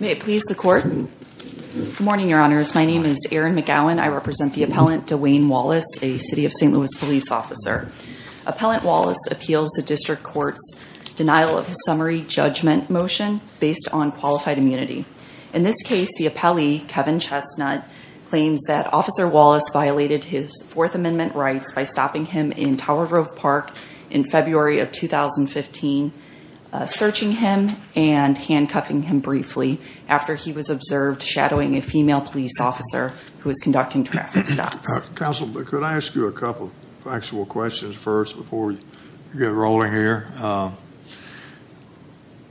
May it please the court. Good morning, Your Honors. My name is Erin McGowan. I represent the appellant Dawain Wallace, a City of St. Louis police officer. Appellant Wallace appeals the district court's denial of his summary judgment motion based on qualified immunity. In this case, the appellee, Kevin Chestnut, claims that Officer Wallace violated his Fourth Amendment rights by stopping him in Tower Grove Park in February of 2015, searching him and handcuffing him briefly after he was observed shadowing a female police officer who was conducting traffic stops. Counsel, could I ask you a couple of factual questions first before we get rolling here?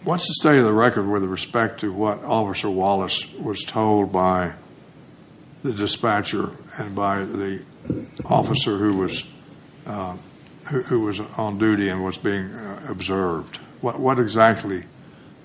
What's the state of the record with respect to what Officer who was who was on duty and was being observed? What exactly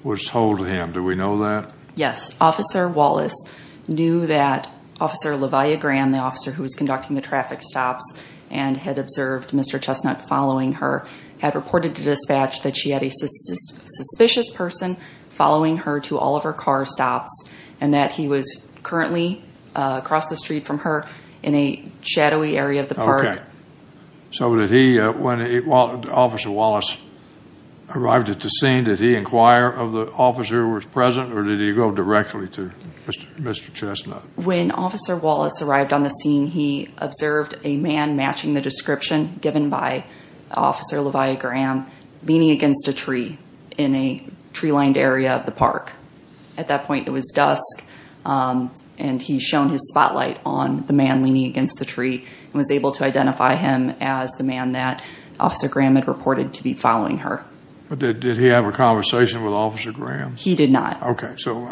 was told to him? Do we know that? Yes, Officer Wallace knew that Officer LaVia Graham, the officer who was conducting the traffic stops and had observed Mr. Chestnut following her, had reported to dispatch that she had a suspicious person following her to all of her car stops and that he was currently across the street from her in a shadowy area of the park. So when Officer Wallace arrived at the scene, did he inquire of the officer who was present or did he go directly to Mr. Chestnut? When Officer Wallace arrived on the scene, he observed a man matching the description given by Officer LaVia Graham leaning against a tree in a tree-lined area of the park. At that point, it was dusk and he shone his spotlight on the man leaning against the tree and was able to identify him as the man that Officer Graham had reported to be following her. But did he have a conversation with Officer Graham? He did not. Okay. So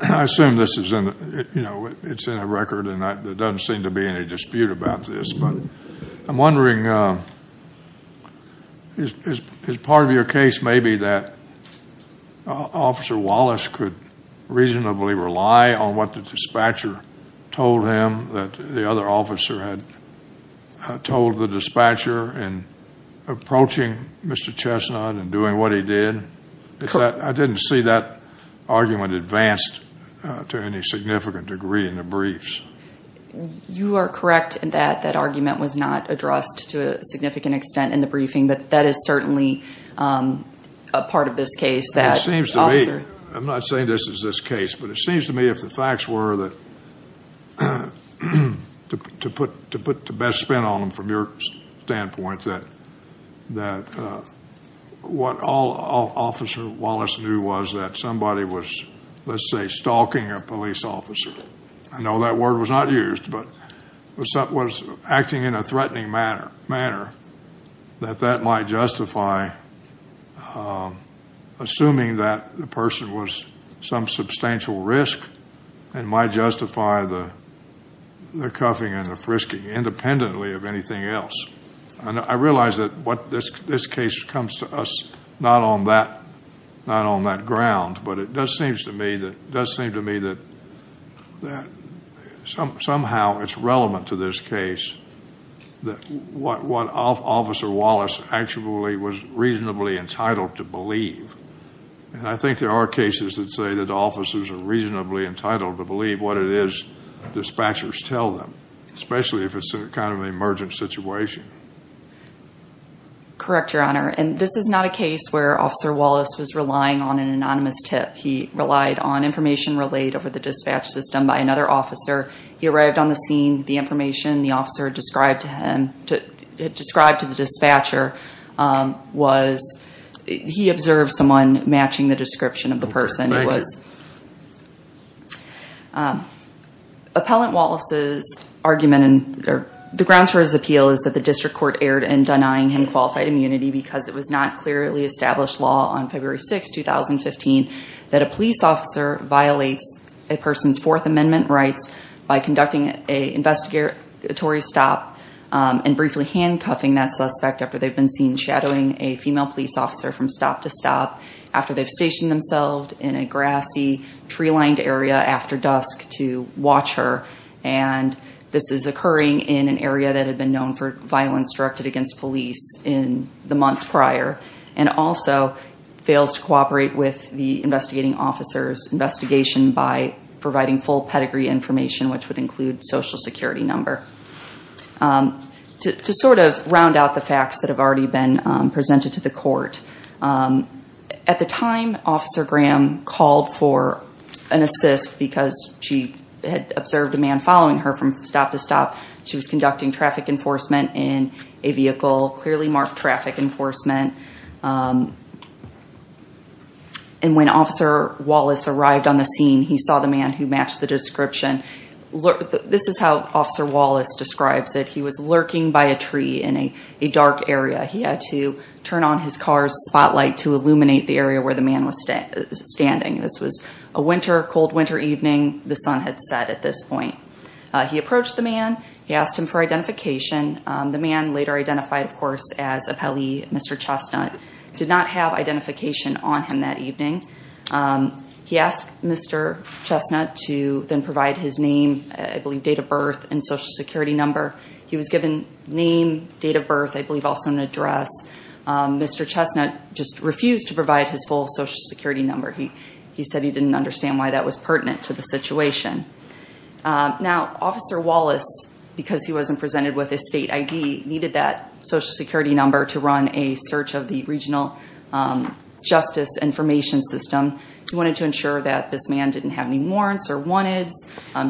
I assume this is in, you know, it's in a record and there doesn't seem to be any I assume that Officer Wallace could reasonably rely on what the dispatcher told him that the other officer had told the dispatcher in approaching Mr. Chestnut and doing what he did. I didn't see that argument advanced to any significant degree in the briefs. You are correct in that that argument was not addressed to a significant extent in the this case. It seems to me, I'm not saying this is this case, but it seems to me if the facts were that to put the best spin on them from your standpoint, that what all Officer Wallace knew was that somebody was, let's say, stalking a police officer. I know that word was not assuming that the person was some substantial risk and might justify the cuffing and the frisking independently of anything else. I realize that what this case comes to us, not on that ground, but it does seem to me that somehow it's relevant to this case that what Officer Wallace actually was reasonably entitled to believe. I think there are cases that say that officers are reasonably entitled to believe what it is dispatchers tell them, especially if it's kind of an emergent situation. Correct Your Honor. This is not a case where Officer Wallace was relying on an anonymous tip. He relied on information relayed over the dispatch system by another officer. He arrived on the scene. The information the officer described to the dispatcher, he observed someone matching the description of the person. Appellant Wallace's argument and the grounds for his appeal is that the district court erred in denying him qualified immunity because it was not clearly established law on February 1st. It's a case in which an investigator is stopped and briefly handcuffing that suspect after they've been seen shadowing a female police officer from stop to stop, after they've stationed themselves in a grassy tree-lined area after dusk to watch her, and this is occurring in an area that had been known for violence directed against police in the months prior, and also fails to cooperate with the investigating officer's investigation by providing full security number. To sort of round out the facts that have already been presented to the court, at the time Officer Graham called for an assist because she had observed a man following her from stop to stop. She was conducting traffic enforcement in a vehicle, clearly marked traffic enforcement, and when Officer Wallace arrived on the scene, he saw the man who matched the description. This is how Officer Wallace describes it. He was lurking by a tree in a dark area. He had to turn on his car's spotlight to illuminate the area where the man was standing. This was a winter, cold winter evening. The sun had set at this point. He approached the man. He asked him for identification. The man, later identified, of course, as Appellee Mr. Chestnut, did not have identification on him that evening. He asked Mr. Chestnut to then provide his name, I believe date of birth, and social security number. He was given name, date of birth, I believe also an address. Mr. Chestnut just refused to provide his full social security number. He said he didn't understand why that was pertinent to the situation. Now, Officer Wallace, because he wasn't presented with a state ID, needed that social security number to run a search of the regional justice information system. He wanted to ensure that this man didn't have any warrants or wanteds,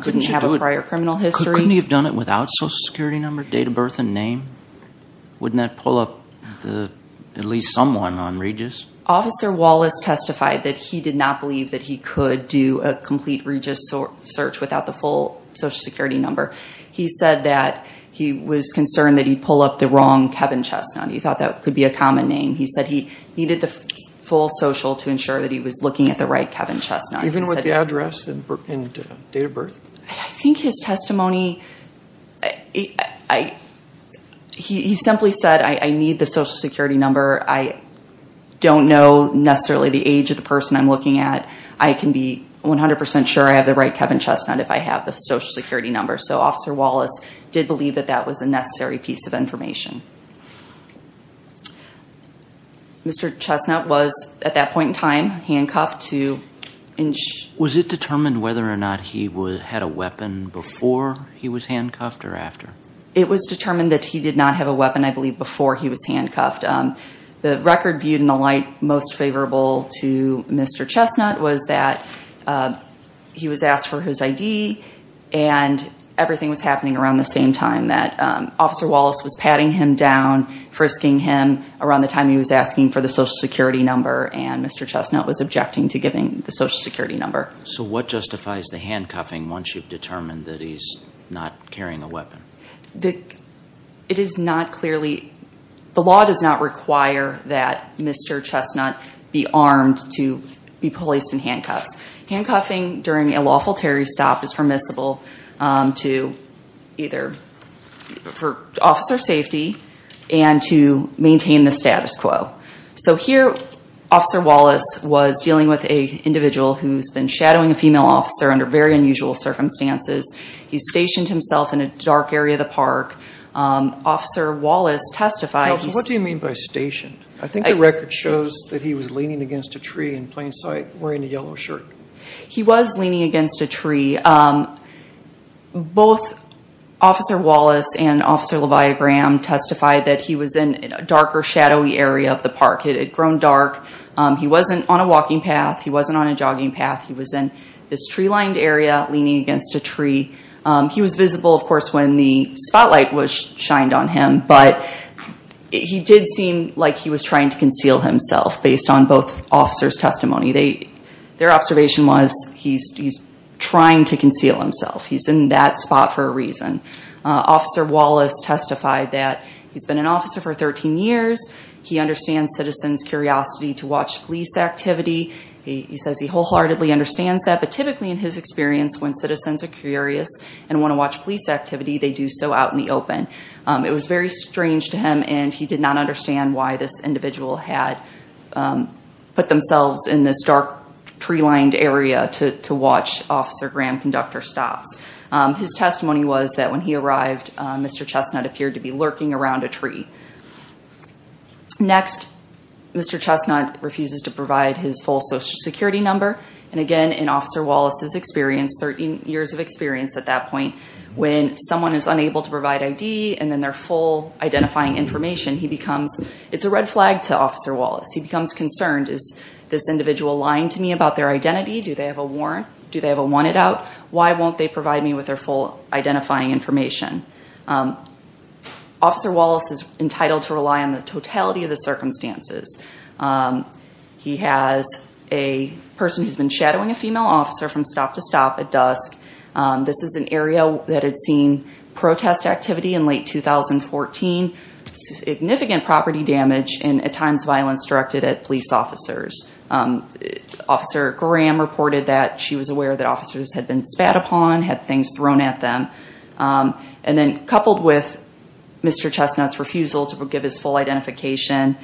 didn't have a prior criminal history. Couldn't he have done it without social security number, date of birth, and name? Wouldn't that pull up at least someone on Regis? Officer Wallace testified that he did not believe that he could do a complete Regis search without the full social security number. He said that he was concerned that he'd pull up the wrong Kevin Chestnut. He thought that could be a common name. He said he needed the full social to ensure that he was looking at the right Kevin Chestnut. Even with the address and date of birth? I think his testimony, he simply said, I need the social security number. I don't know necessarily the age of the person I'm looking at. I can be 100% sure I have the right Kevin Chestnut if I have the social security number. Officer Wallace did believe that that was a necessary piece of information. Mr. Chestnut was, at that point in time, handcuffed. Was it determined whether or not he had a weapon before he was handcuffed or after? It was determined that he did not have a weapon, I believe, before he was handcuffed. The record viewed in the light most favorable to Mr. Chestnut was that he was asked for his ID and everything was happening around the same time that Officer Wallace was patting him down, frisking him around the time he was asking for the social security number. And Mr. Chestnut was objecting to giving the social security number. So what justifies the handcuffing once you've determined that he's not carrying a weapon? It is not clearly, the law does not require that Mr. Chestnut be armed to be placed in handcuffs. Handcuffing during a lawful terry stop is permissible to either, for officer safety and to maintain the status quo. So here, Officer Wallace was dealing with a individual who's been shadowing a female officer under very unusual circumstances. He stationed himself in a dark area of the park. Officer Wallace testified- Counsel, what do you mean by stationed? I think the record shows that he was leaning against a tree in plain sight, wearing a yellow shirt. He was leaning against a tree. Both Officer Wallace and Officer LaVia Graham testified that he was in a darker, shadowy area of the park. It had grown dark. He wasn't on a walking path. He wasn't on a jogging path. He was in this tree-lined area, leaning against a tree. He was visible, of course, when the spotlight was shined on him. But he did seem like he was trying to conceal himself, based on both officers' testimony. Their observation was he's trying to conceal himself. He's in that spot for a reason. Officer Wallace testified that he's been an officer for 13 years. He understands citizens' curiosity to watch police activity. He says he wholeheartedly understands that. But typically, in his experience, when citizens are curious and want to watch police activity, they do so out in the open. It was very strange to him, and he did not understand why this individual had put themselves in this dark, tree-lined area to watch Officer Graham conduct her stops. His testimony was that when he arrived, Mr. Chestnut appeared to be lurking around a tree. Next, Mr. Chestnut refuses to provide his full social security number. And again, in Officer Wallace's experience, 13 years of experience at that point, when someone is unable to provide ID and then their full identifying information, he becomes, it's a red flag to Officer Wallace. He becomes concerned. Is this individual lying to me about their identity? Do they have a warrant? Do they have a wanted out? Why won't they provide me with their full identifying information? Officer Wallace is entitled to rely on the totality of the circumstances. He has a person who's been shadowing a female officer from stop to stop at dusk. This is an area that had seen protest activity in late 2014, significant property damage, and at times violence directed at police officers. Officer Graham reported that she was aware that officers had been spat upon, had things thrown at them. And then coupled with Mr. Chestnut's refusal to give his full identification,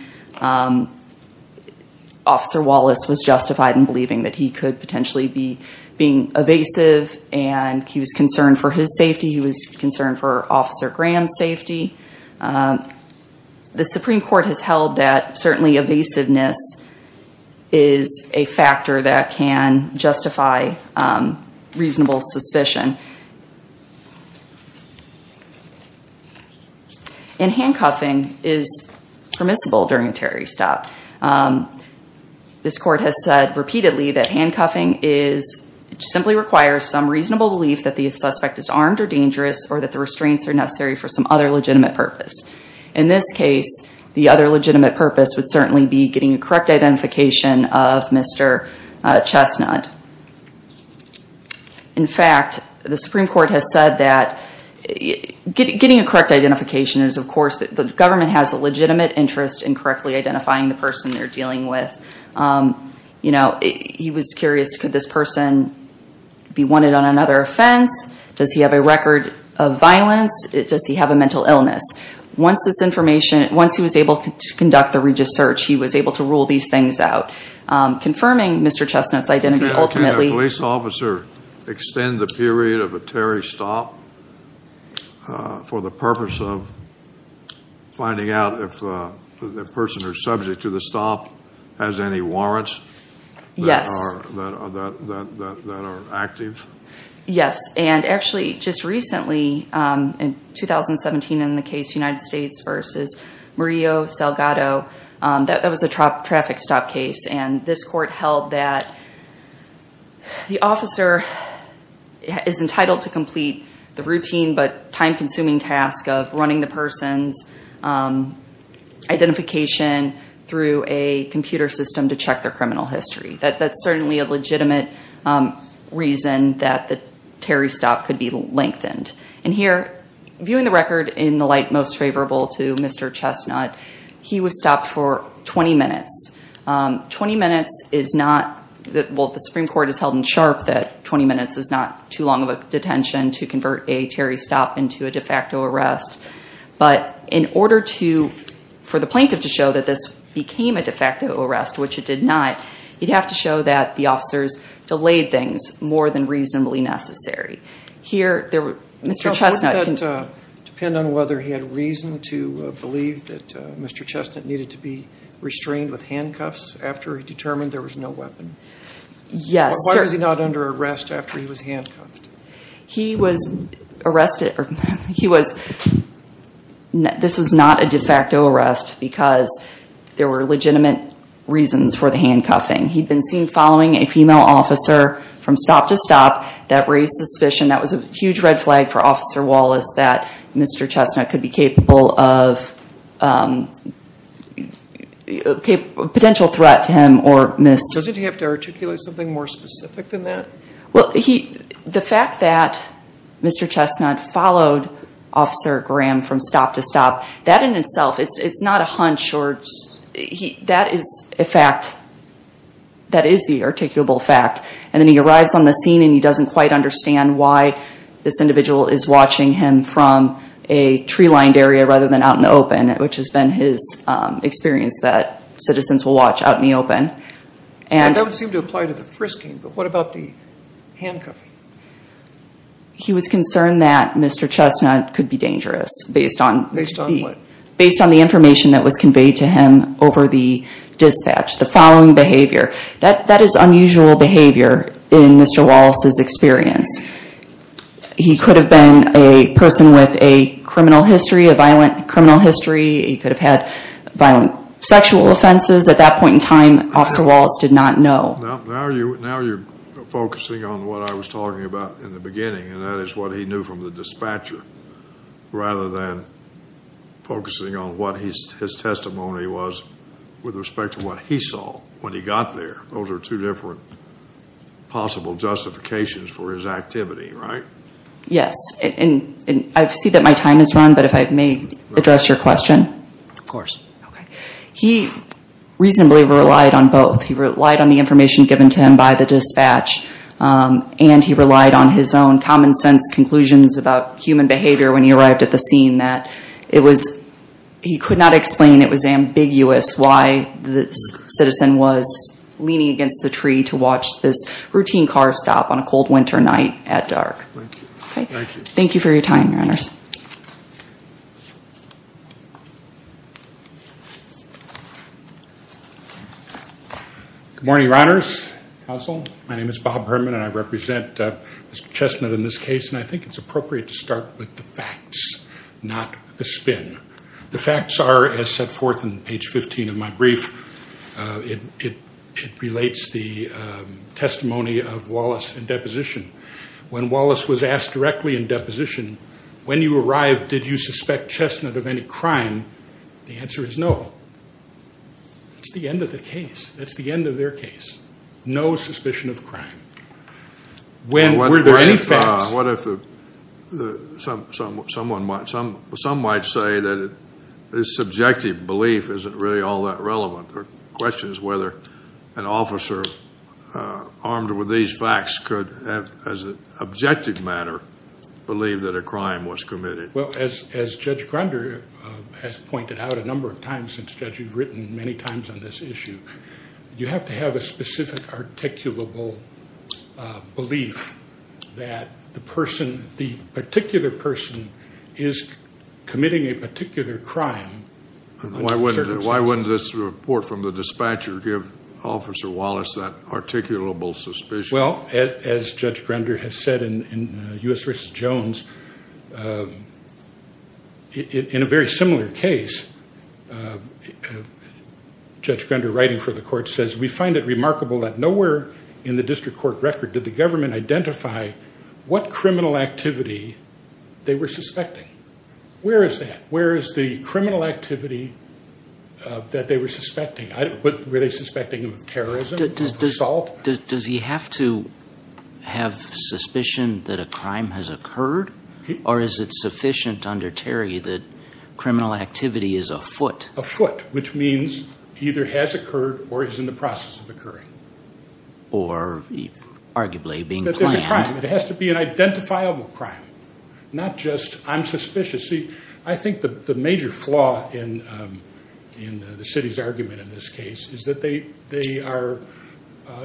Officer Wallace was justified in believing that he could potentially be being evasive. And he was concerned for his safety. He was concerned for Officer Graham's safety. The Supreme Court has held that certainly evasiveness is a factor that can justify reasonable suspicion. And handcuffing is permissible during a terrorist stop. This court has said repeatedly that handcuffing simply requires some reasonable belief that the suspect is armed or dangerous or that the restraints are necessary for some other legitimate purpose. In this case, the other legitimate purpose would certainly be getting a correct identification of Mr. Chestnut. In fact, the Supreme Court has said that getting a correct identification is, of course, the government has a legitimate interest in correctly identifying the person they're dealing with. He was curious, could this person be wanted on another offense? Does he have a record of violence? Does he have a mental illness? Once he was able to conduct the regis search, he was able to rule these things out. Confirming Mr. Chestnut's identity ultimately- Can a police officer extend the period of a terrorist stop for the purpose of finding out if the person who's subject to the stop has any warrants? Yes. That are active? Yes, and actually just recently in 2017 in the case United States versus Murillo Salgado. That was a traffic stop case and this court held that the officer is entitled to complete the routine but time consuming task of running the person's identification through a computer system to check their criminal history. That's certainly a legitimate reason that the terrorist stop could be lengthened. And here, viewing the record in the light most favorable to Mr. Chestnut, he was stopped for 20 minutes. 20 minutes is not, well the Supreme Court has held in sharp that 20 minutes is not too long of a detention to convert a terrorist stop into a de facto arrest. But in order for the plaintiff to show that this became a de facto arrest, which it did not, you'd have to show that the officers delayed things more than reasonably necessary. Here, Mr. Chestnut- It doesn't depend on whether he had reason to believe that Mr. Chestnut needed to be restrained with handcuffs after he determined there was no weapon? Yes, sir. Why was he not under arrest after he was handcuffed? He was arrested, he was, this was not a de facto arrest because there were legitimate reasons for the handcuffing. He'd been seen following a female officer from stop to stop that raised suspicion. That was a huge red flag for Officer Wallace that Mr. Chestnut could be capable of, potential threat to him or miss. Doesn't he have to articulate something more specific than that? Well, he, the fact that Mr. Chestnut followed Officer Graham from stop to stop, that in itself, it's not a hunch. He, that is a fact, that is the articulable fact. And then he arrives on the scene and he doesn't quite understand why this individual is watching him from a tree-lined area rather than out in the open, which has been his experience that citizens will watch out in the open. That doesn't seem to apply to the frisking, but what about the handcuffing? He was concerned that Mr. Chestnut could be dangerous based on- Based on what? Based on the information that was conveyed to him over the dispatch. The following behavior. That is unusual behavior in Mr. Wallace's experience. He could have been a person with a criminal history, a violent criminal history. He could have had violent sexual offenses. At that point in time, Officer Wallace did not know. Now you're focusing on what I was talking about in the beginning and that is what he knew from the dispatcher rather than focusing on what his testimony was with respect to what he saw when he got there. Those are two different possible justifications for his activity, right? Yes, and I see that my time is run, but if I may address your question. Of course. He reasonably relied on both. He relied on the information given to him by the dispatch and he relied on his own common sense conclusions about human behavior when he arrived at the scene that it was, he could not explain, it was ambiguous why the citizen was leaning against the tree to watch this routine car stop on a cold winter night at dark. Thank you. Thank you for your time, Your Honors. Good morning, Your Honors, Counsel. My name is Bob Herman and I represent Mr. I'm going to start with the facts, not the spin. The facts are as set forth in page 15 of my brief. It relates the testimony of Wallace in deposition. When Wallace was asked directly in deposition, when you arrived, did you suspect chestnut of any crime? The answer is no. That's the end of the case. That's the end of their case. No suspicion of crime. When were there any facts? What if the, some might say that his subjective belief isn't really all that relevant. The question is whether an officer armed with these facts could have, as an objective matter, believe that a crime was committed. Well, as Judge Grunder has pointed out a number of times, since Judge, you've written many times on this issue. You have to have a specific articulable belief that the person, the particular person, is committing a particular crime. Why wouldn't this report from the dispatcher give Officer Wallace that articulable suspicion? Well, as Judge Grunder has said in U.S. for the court says, we find it remarkable that nowhere in the district court record did the government identify what criminal activity they were suspecting. Where is that? Where is the criminal activity that they were suspecting? Were they suspecting him of terrorism, of assault? Does he have to have suspicion that a crime has occurred? Or is it sufficient under Terry that criminal activity is afoot? Afoot, which means either has occurred or is in the process of occurring. Or arguably being planned. That there's a crime. It has to be an identifiable crime, not just I'm suspicious. See, I think the major flaw in the city's argument in this case is that they are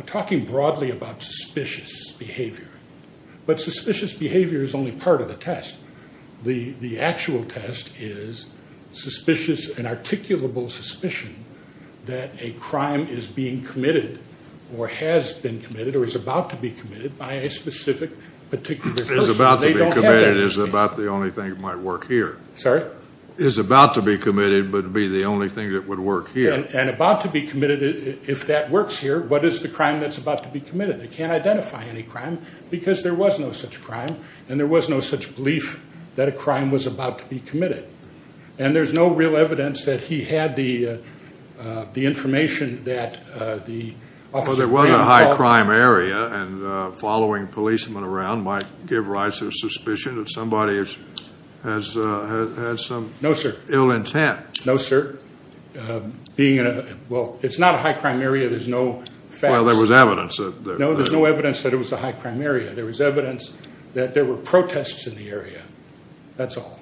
talking broadly about suspicious behavior. But suspicious behavior is only part of the test. The actual test is suspicious and articulable suspicion that a crime is being committed or has been committed or is about to be committed by a specific particular person. They don't have that in this case. Is about the only thing that might work here. Sorry? Is about to be committed, but be the only thing that would work here. And about to be committed, if that works here, what is the crime that's about to be committed? They can't identify any crime because there was no such crime and there was no such belief that a crime was about to be committed. And there's no real evidence that he had the information that the officer- Well, there was a high crime area and following policemen around might give rise to suspicion that somebody has some- No, sir. Ill intent. No, sir. Being in a, well, it's not a high crime area. There's no facts. Well, there was evidence that- No, there's no evidence that it was a high crime area. There was evidence that there were protests in the area. That's all.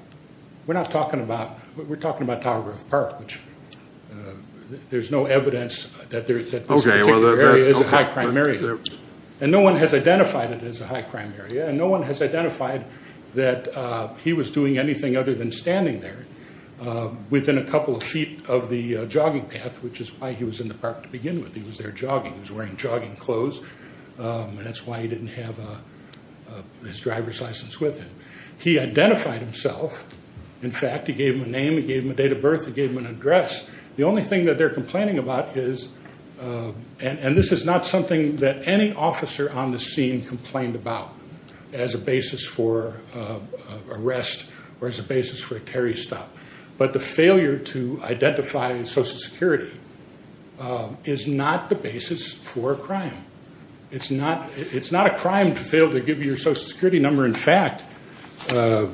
We're not talking about, we're talking about Tower Grove Park, which there's no evidence that this particular area is a high crime area. And no one has identified it as a high crime area. And no one has identified that he was doing anything other than standing there within a couple of feet of the jogging path, which is why he was in the park to begin with. He was there jogging. He was wearing jogging clothes, and that's why he didn't have his driver's license with him. He identified himself. In fact, he gave him a name, he gave him a date of birth, he gave him an address. The only thing that they're complaining about is, and this is not something that any officer on the scene complained about as a basis for arrest or as a basis for a carry stop. But the failure to identify Social Security is not the basis for a crime. It's not a crime to fail to give your Social Security number. In fact, the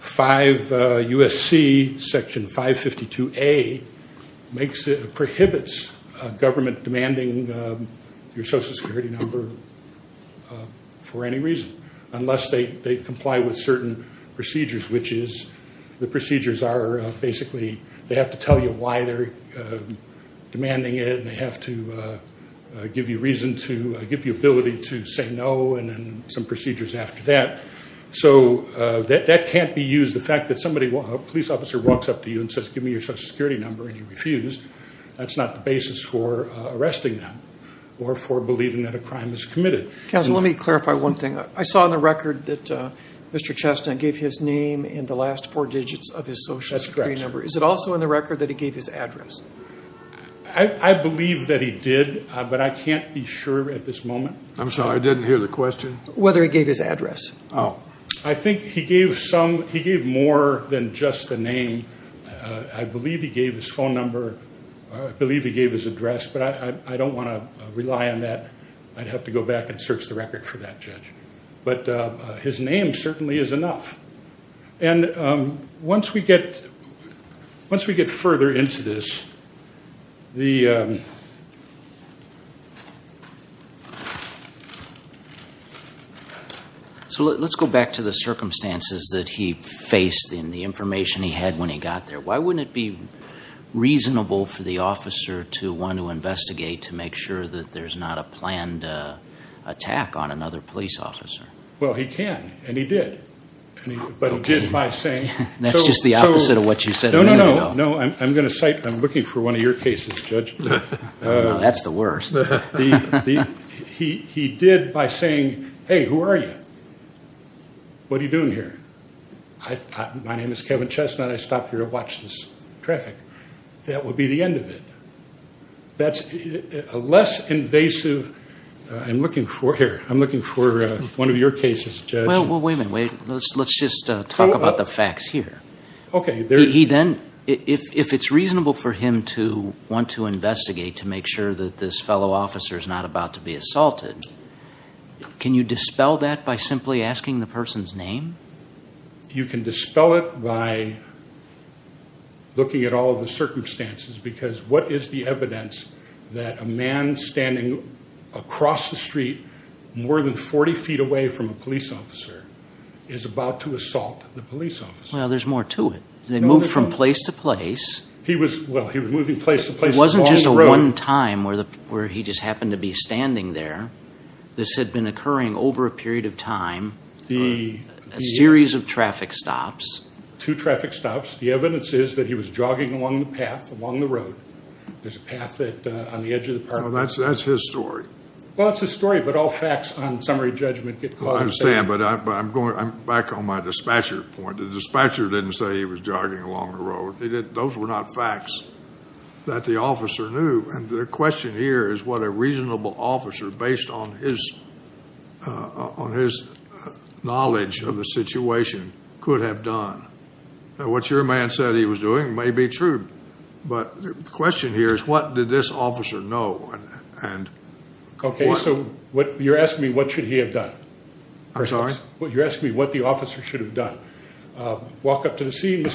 5USC Section 552A prohibits a government demanding your Social Security number for any reason. Unless they comply with certain procedures, which is, the procedures are basically, they have to tell you why they're demanding it, and they have to give you reason to, give you ability to say no, and then some procedures after that. So that can't be used, the fact that somebody, a police officer walks up to you and says, give me your Social Security number, and you refuse. That's not the basis for arresting them, or for believing that a crime is committed. Counselor, let me clarify one thing. I saw on the record that Mr. Chestnut gave his name in the last four digits of his Social Security number. Is it also in the record that he gave his address? I believe that he did, but I can't be sure at this moment. I'm sorry, I didn't hear the question. Whether he gave his address. Oh. I think he gave some, he gave more than just the name. I believe he gave his phone number, I believe he gave his address, but I don't want to rely on that. I'd have to go back and search the record for that, Judge. But his name certainly is enough. And once we get, once we get further into this, the. So let's go back to the circumstances that he faced and the information he had when he got there. Why wouldn't it be reasonable for the officer to want to investigate to make sure that there's not a planned attack on another police officer? Well, he can, and he did, but he did by saying. That's just the opposite of what you said a minute ago. No, I'm going to cite, I'm looking for one of your cases, Judge. That's the worst. He did by saying, hey, who are you? What are you doing here? My name is Kevin Chestnut, I stopped here to watch this traffic. That would be the end of it. That's a less invasive, I'm looking for, here, I'm looking for one of your cases, Judge. Well, wait a minute, wait, let's just talk about the facts here. Okay. He then, if it's reasonable for him to want to investigate to make sure that this fellow officer is not about to be assaulted, can you dispel that by simply asking the person's name? You can dispel it by looking at all of the circumstances, because what is the evidence that a man standing across the street, more than 40 feet away from a police officer, is about to assault the police officer? Well, there's more to it. They moved from place to place. He was, well, he was moving place to place along the road. At one time, where he just happened to be standing there, this had been occurring over a period of time, a series of traffic stops. Two traffic stops. The evidence is that he was jogging along the path, along the road. There's a path that, on the edge of the park. Well, that's his story. Well, it's his story, but all facts on summary judgment get caught. I understand, but I'm going back on my dispatcher point. The dispatcher didn't say he was jogging along the road. Those were not facts that the officer knew, and the question here is what a reasonable officer, based on his knowledge of the situation, could have done. What your man said he was doing may be true, but the question here is what did this officer know? Okay, so you're asking me what should he have done? I'm sorry? Well, you're asking me what the officer should have done. Walk up to the scene.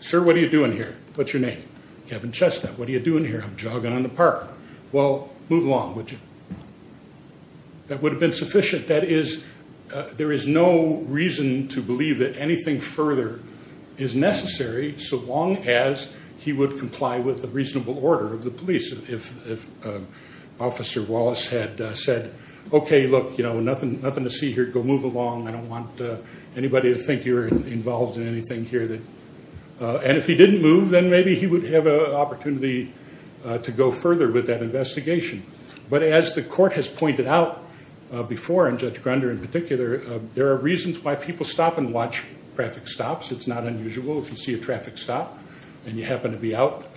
Sir, what are you doing here? What's your name? Kevin Chestnut. What are you doing here? I'm jogging on the park. Well, move along, would you? That would have been sufficient. That is, there is no reason to believe that anything further is necessary, so long as he would comply with the reasonable order of the police. If Officer Wallace had said, okay, look, nothing to see here. Go move along. I don't want anybody to think you're involved in anything here. And if he didn't move, then maybe he would have an opportunity to go further with that investigation. But as the court has pointed out before, and Judge Grunder in particular, there are reasons why people stop and watch traffic stops. It's not unusual. If you see a traffic stop and you happen to be out,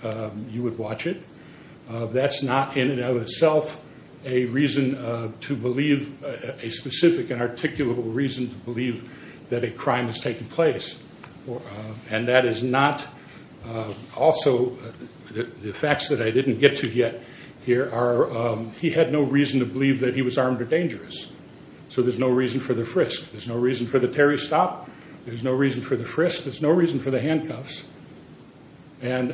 you would watch it. That's not in and of itself a reason to believe, a specific and articulable reason to believe that a crime has taken place. And that is not also, the facts that I didn't get to yet here are, he had no reason to believe that he was armed or dangerous. So there's no reason for the frisk. There's no reason for the Terry stop. There's no reason for the frisk. There's no reason for the handcuffs. And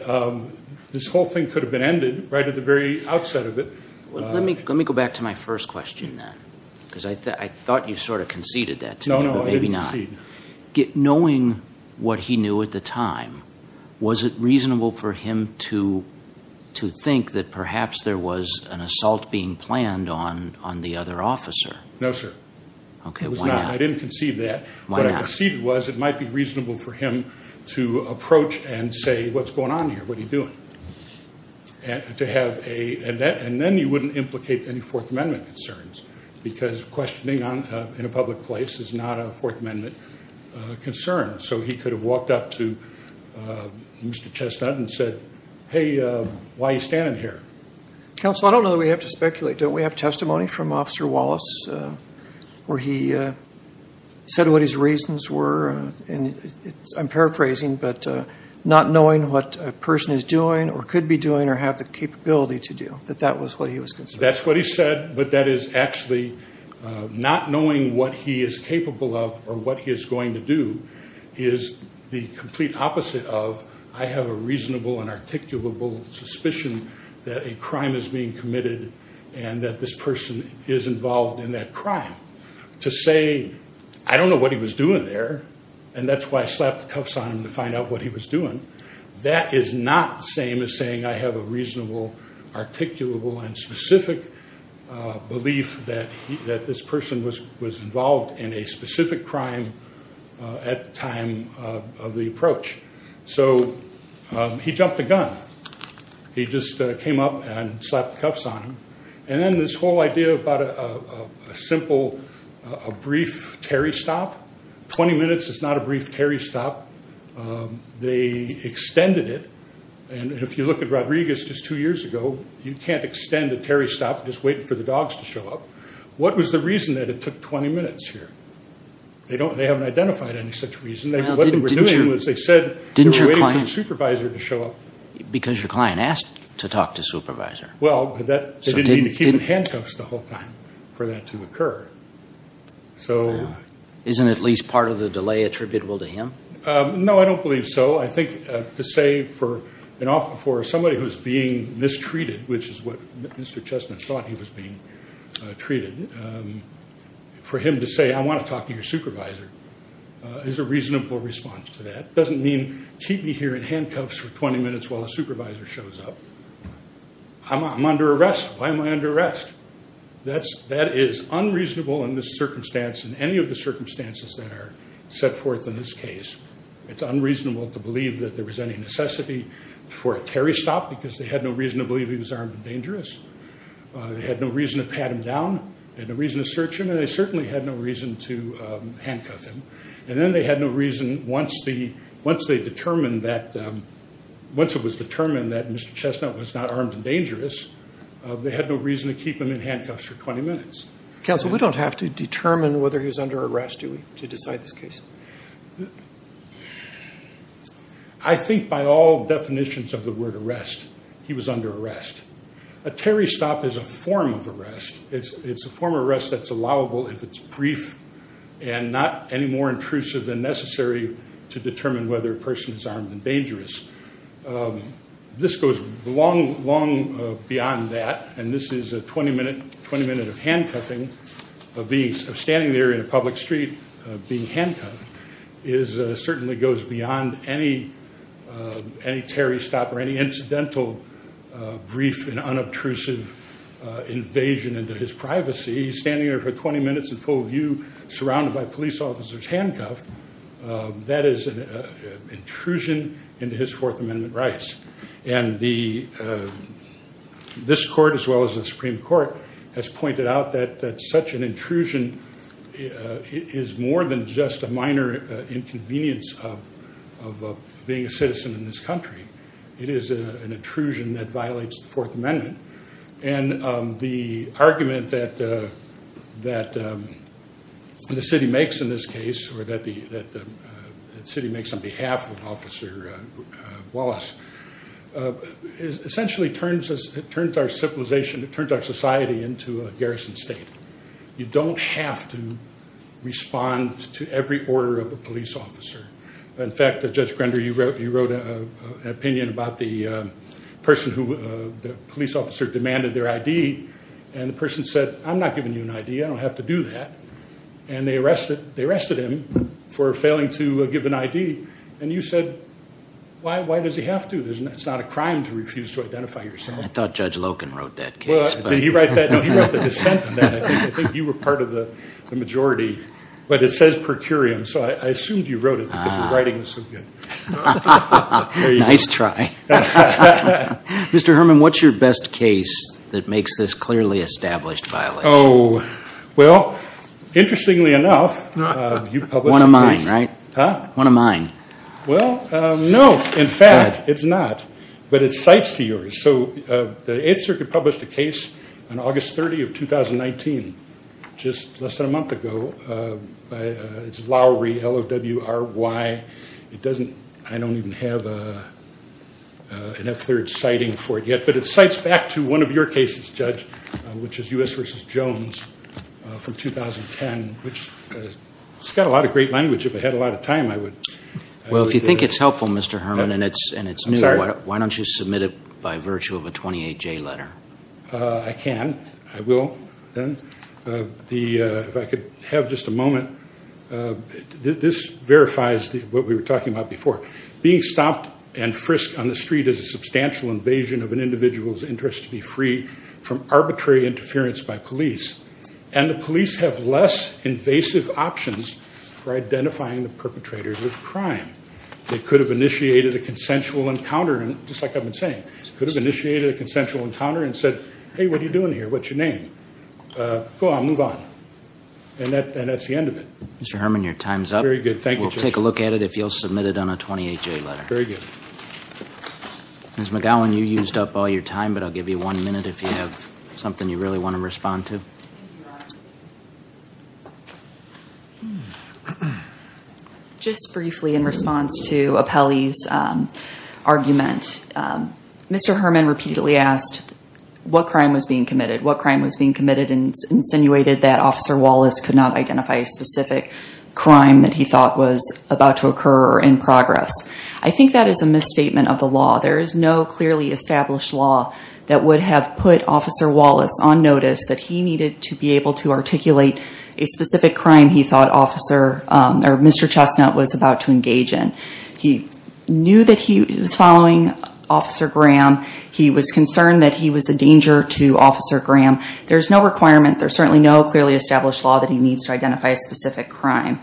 this whole thing could have been ended right at the very outset of it. Well, let me, let me go back to my first question then. Because I thought, I thought you sort of conceded that to me, but maybe not. No, no, I didn't concede. Knowing what he knew at the time, was it reasonable for him to, to think that perhaps there was an assault being planned on, on the other officer? No, sir. Okay, why not? It was not, I didn't concede that. What I conceded was it might be reasonable for him to approach and say, what's going on here? What are you doing? And to have a, and then you wouldn't implicate any fourth amendment concerns because questioning on, in a public place is not a fourth amendment concern. So he could have walked up to Mr. Chestnut and said, hey, why are you standing here? Counsel, I don't know that we have to speculate. Don't we have testimony from officer Wallace where he said what his reasons were. And I'm paraphrasing, but not knowing what a person is doing or could be doing or have the capability to do, that that was what he was concerned. That's what he said, but that is actually not knowing what he is capable of or what he is going to do is the complete opposite of, I have a reasonable and articulable suspicion that a crime is being committed and that this person is involved in that crime. To say, I don't know what he was doing there. And that's why I slapped the cuffs on him to find out what he was doing. That is not the same as saying, I have a reasonable, articulable and specific belief that he, that this person was, was involved in a specific crime at the time of the approach. So he jumped the gun. He just came up and slapped the cuffs on him. And then this whole idea about a simple, a brief Terry stop, 20 minutes is not a brief Terry stop. They extended it. And if you look at Rodriguez just two years ago, you can't extend a Terry stop just waiting for the dogs to show up. What was the reason that it took 20 minutes here? They don't, they haven't identified any such reason. They were doing was they said, didn't your client supervisor to show up? Because your client asked to talk to supervisor. Well, that didn't need to keep in handcuffs the whole time for that to occur. So isn't at least part of the delay attributable to him? No, I don't believe so. I think to say for an offer for somebody who's being mistreated, which is what Mr. Chestnut thought he was being treated. For him to say, I want to talk to your supervisor is a reasonable response to that. It doesn't mean keep me here in handcuffs for 20 minutes while the supervisor shows up. I'm under arrest. Why am I under arrest? That's that is unreasonable in this circumstance. In any of the circumstances that are set forth in this case, it's unreasonable to believe that there was any necessity for a Terry stop because they had no reason to believe he was armed and dangerous. They had no reason to pat him down. They had no reason to search him. And they certainly had no reason to handcuff him. And then they had no reason once the, once they determined that, once it was determined that Mr. Chestnut was not armed and dangerous, they had no reason to keep him in handcuffs for 20 minutes. Counsel, we don't have to determine whether he was under arrest to decide this case. I think by all definitions of the word arrest, he was under arrest. A Terry stop is a form of arrest. It's a form of arrest that's allowable if it's brief and not any more intrusive than necessary to determine whether a person is armed and dangerous. This goes long, long beyond that. And this is a 20 minute, 20 minute of handcuffing, of standing there in a public street, being handcuffed, is certainly goes beyond any, any Terry stop or any incidental brief and unobtrusive invasion into his privacy. He's standing there for 20 minutes in full view, surrounded by police officers, handcuffed. That is an intrusion into his fourth amendment rights and the, this court, as well as the Supreme court has pointed out that, that such an intrusion is more than just a minor inconvenience of, of being a citizen in this country. It is an intrusion that violates the fourth amendment. And the argument that, that the city makes in this case, or that the, that the city makes on behalf of officer Wallace is essentially turns us, it turns our civilization, it turns our society into a garrison state. You don't have to respond to every order of a police officer. In fact, Judge Grender, you wrote, you wrote an opinion about the person who the police officer demanded their ID and the person said, I'm not giving you an ID. I don't have to do that. And they arrested, they arrested him for failing to give an ID. And you said, why, why does he have to? There's not, it's not a crime to refuse to identify yourself. I thought Judge Loken wrote that case. Well, did he write that? No, he wrote the dissent on that. I think, I think you were part of the majority, but it says per curiam. So I assumed you wrote it because the writing was so good. Nice try. Mr. Herman, what's your best case that makes this clearly established violation? Oh, well, interestingly enough, you published a case. One of mine, right? Huh? One of mine. Well, no, in fact, it's not, but it cites to yours. So the Eighth Circuit published a case on August 30 of 2019, just less than a month ago. It's Lowry, L-O-W-R-Y. It doesn't, I don't even have an F-third citing for it yet. But it cites back to one of your cases, Judge, which is U.S. versus Jones from 2010, which has got a lot of great language. If I had a lot of time, I would. Well, if you think it's helpful, Mr. Herman, and it's new, why don't you submit it by virtue of a 28-J letter? I can. I will. Then if I could have just a moment. This verifies what we were talking about before. Being stopped and frisked on the street is a substantial invasion of an individual's interest to be free from arbitrary interference by police. And the police have less invasive options for identifying the perpetrators of crime. They could have initiated a consensual encounter, just like I've been saying, could have initiated a consensual encounter and said, hey, what are you doing here? What's your name? Go on. Move on. And that's the end of it. Mr. Herman, your time's up. Very good. Thank you, Judge. We'll take a look at it if you'll submit it on a 28-J letter. Very good. Ms. McGowan, you used up all your time, but I'll give you one minute if you have something you really want to respond to. Just briefly in response to Apelli's argument, Mr. Herman repeatedly asked, what crime was being committed? What crime was being committed? And insinuated that Officer Wallace could not identify a specific crime that he thought was about to occur or in progress. I think that is a misstatement of the law. There is no clearly established law that would have put Officer Wallace on notice that he needed to be able to articulate a specific crime he thought Mr. Chestnut was about to engage in. He knew that he was following Officer Graham. He was concerned that he was a danger to Officer Graham. There's no requirement. There's certainly no clearly established law that he needs to identify a specific crime.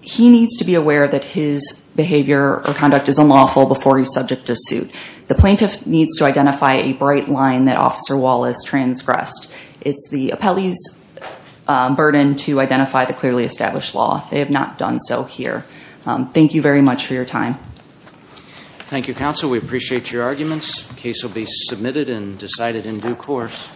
He needs to be aware that his behavior or conduct is unlawful before he's subject to suit. The plaintiff needs to identify a bright line that Officer Wallace transgressed. It's the Apelli's burden to identify the clearly established law. They have not done so here. Thank you very much for your time. Thank you, counsel. We appreciate your arguments. The case will be submitted and decided in due course.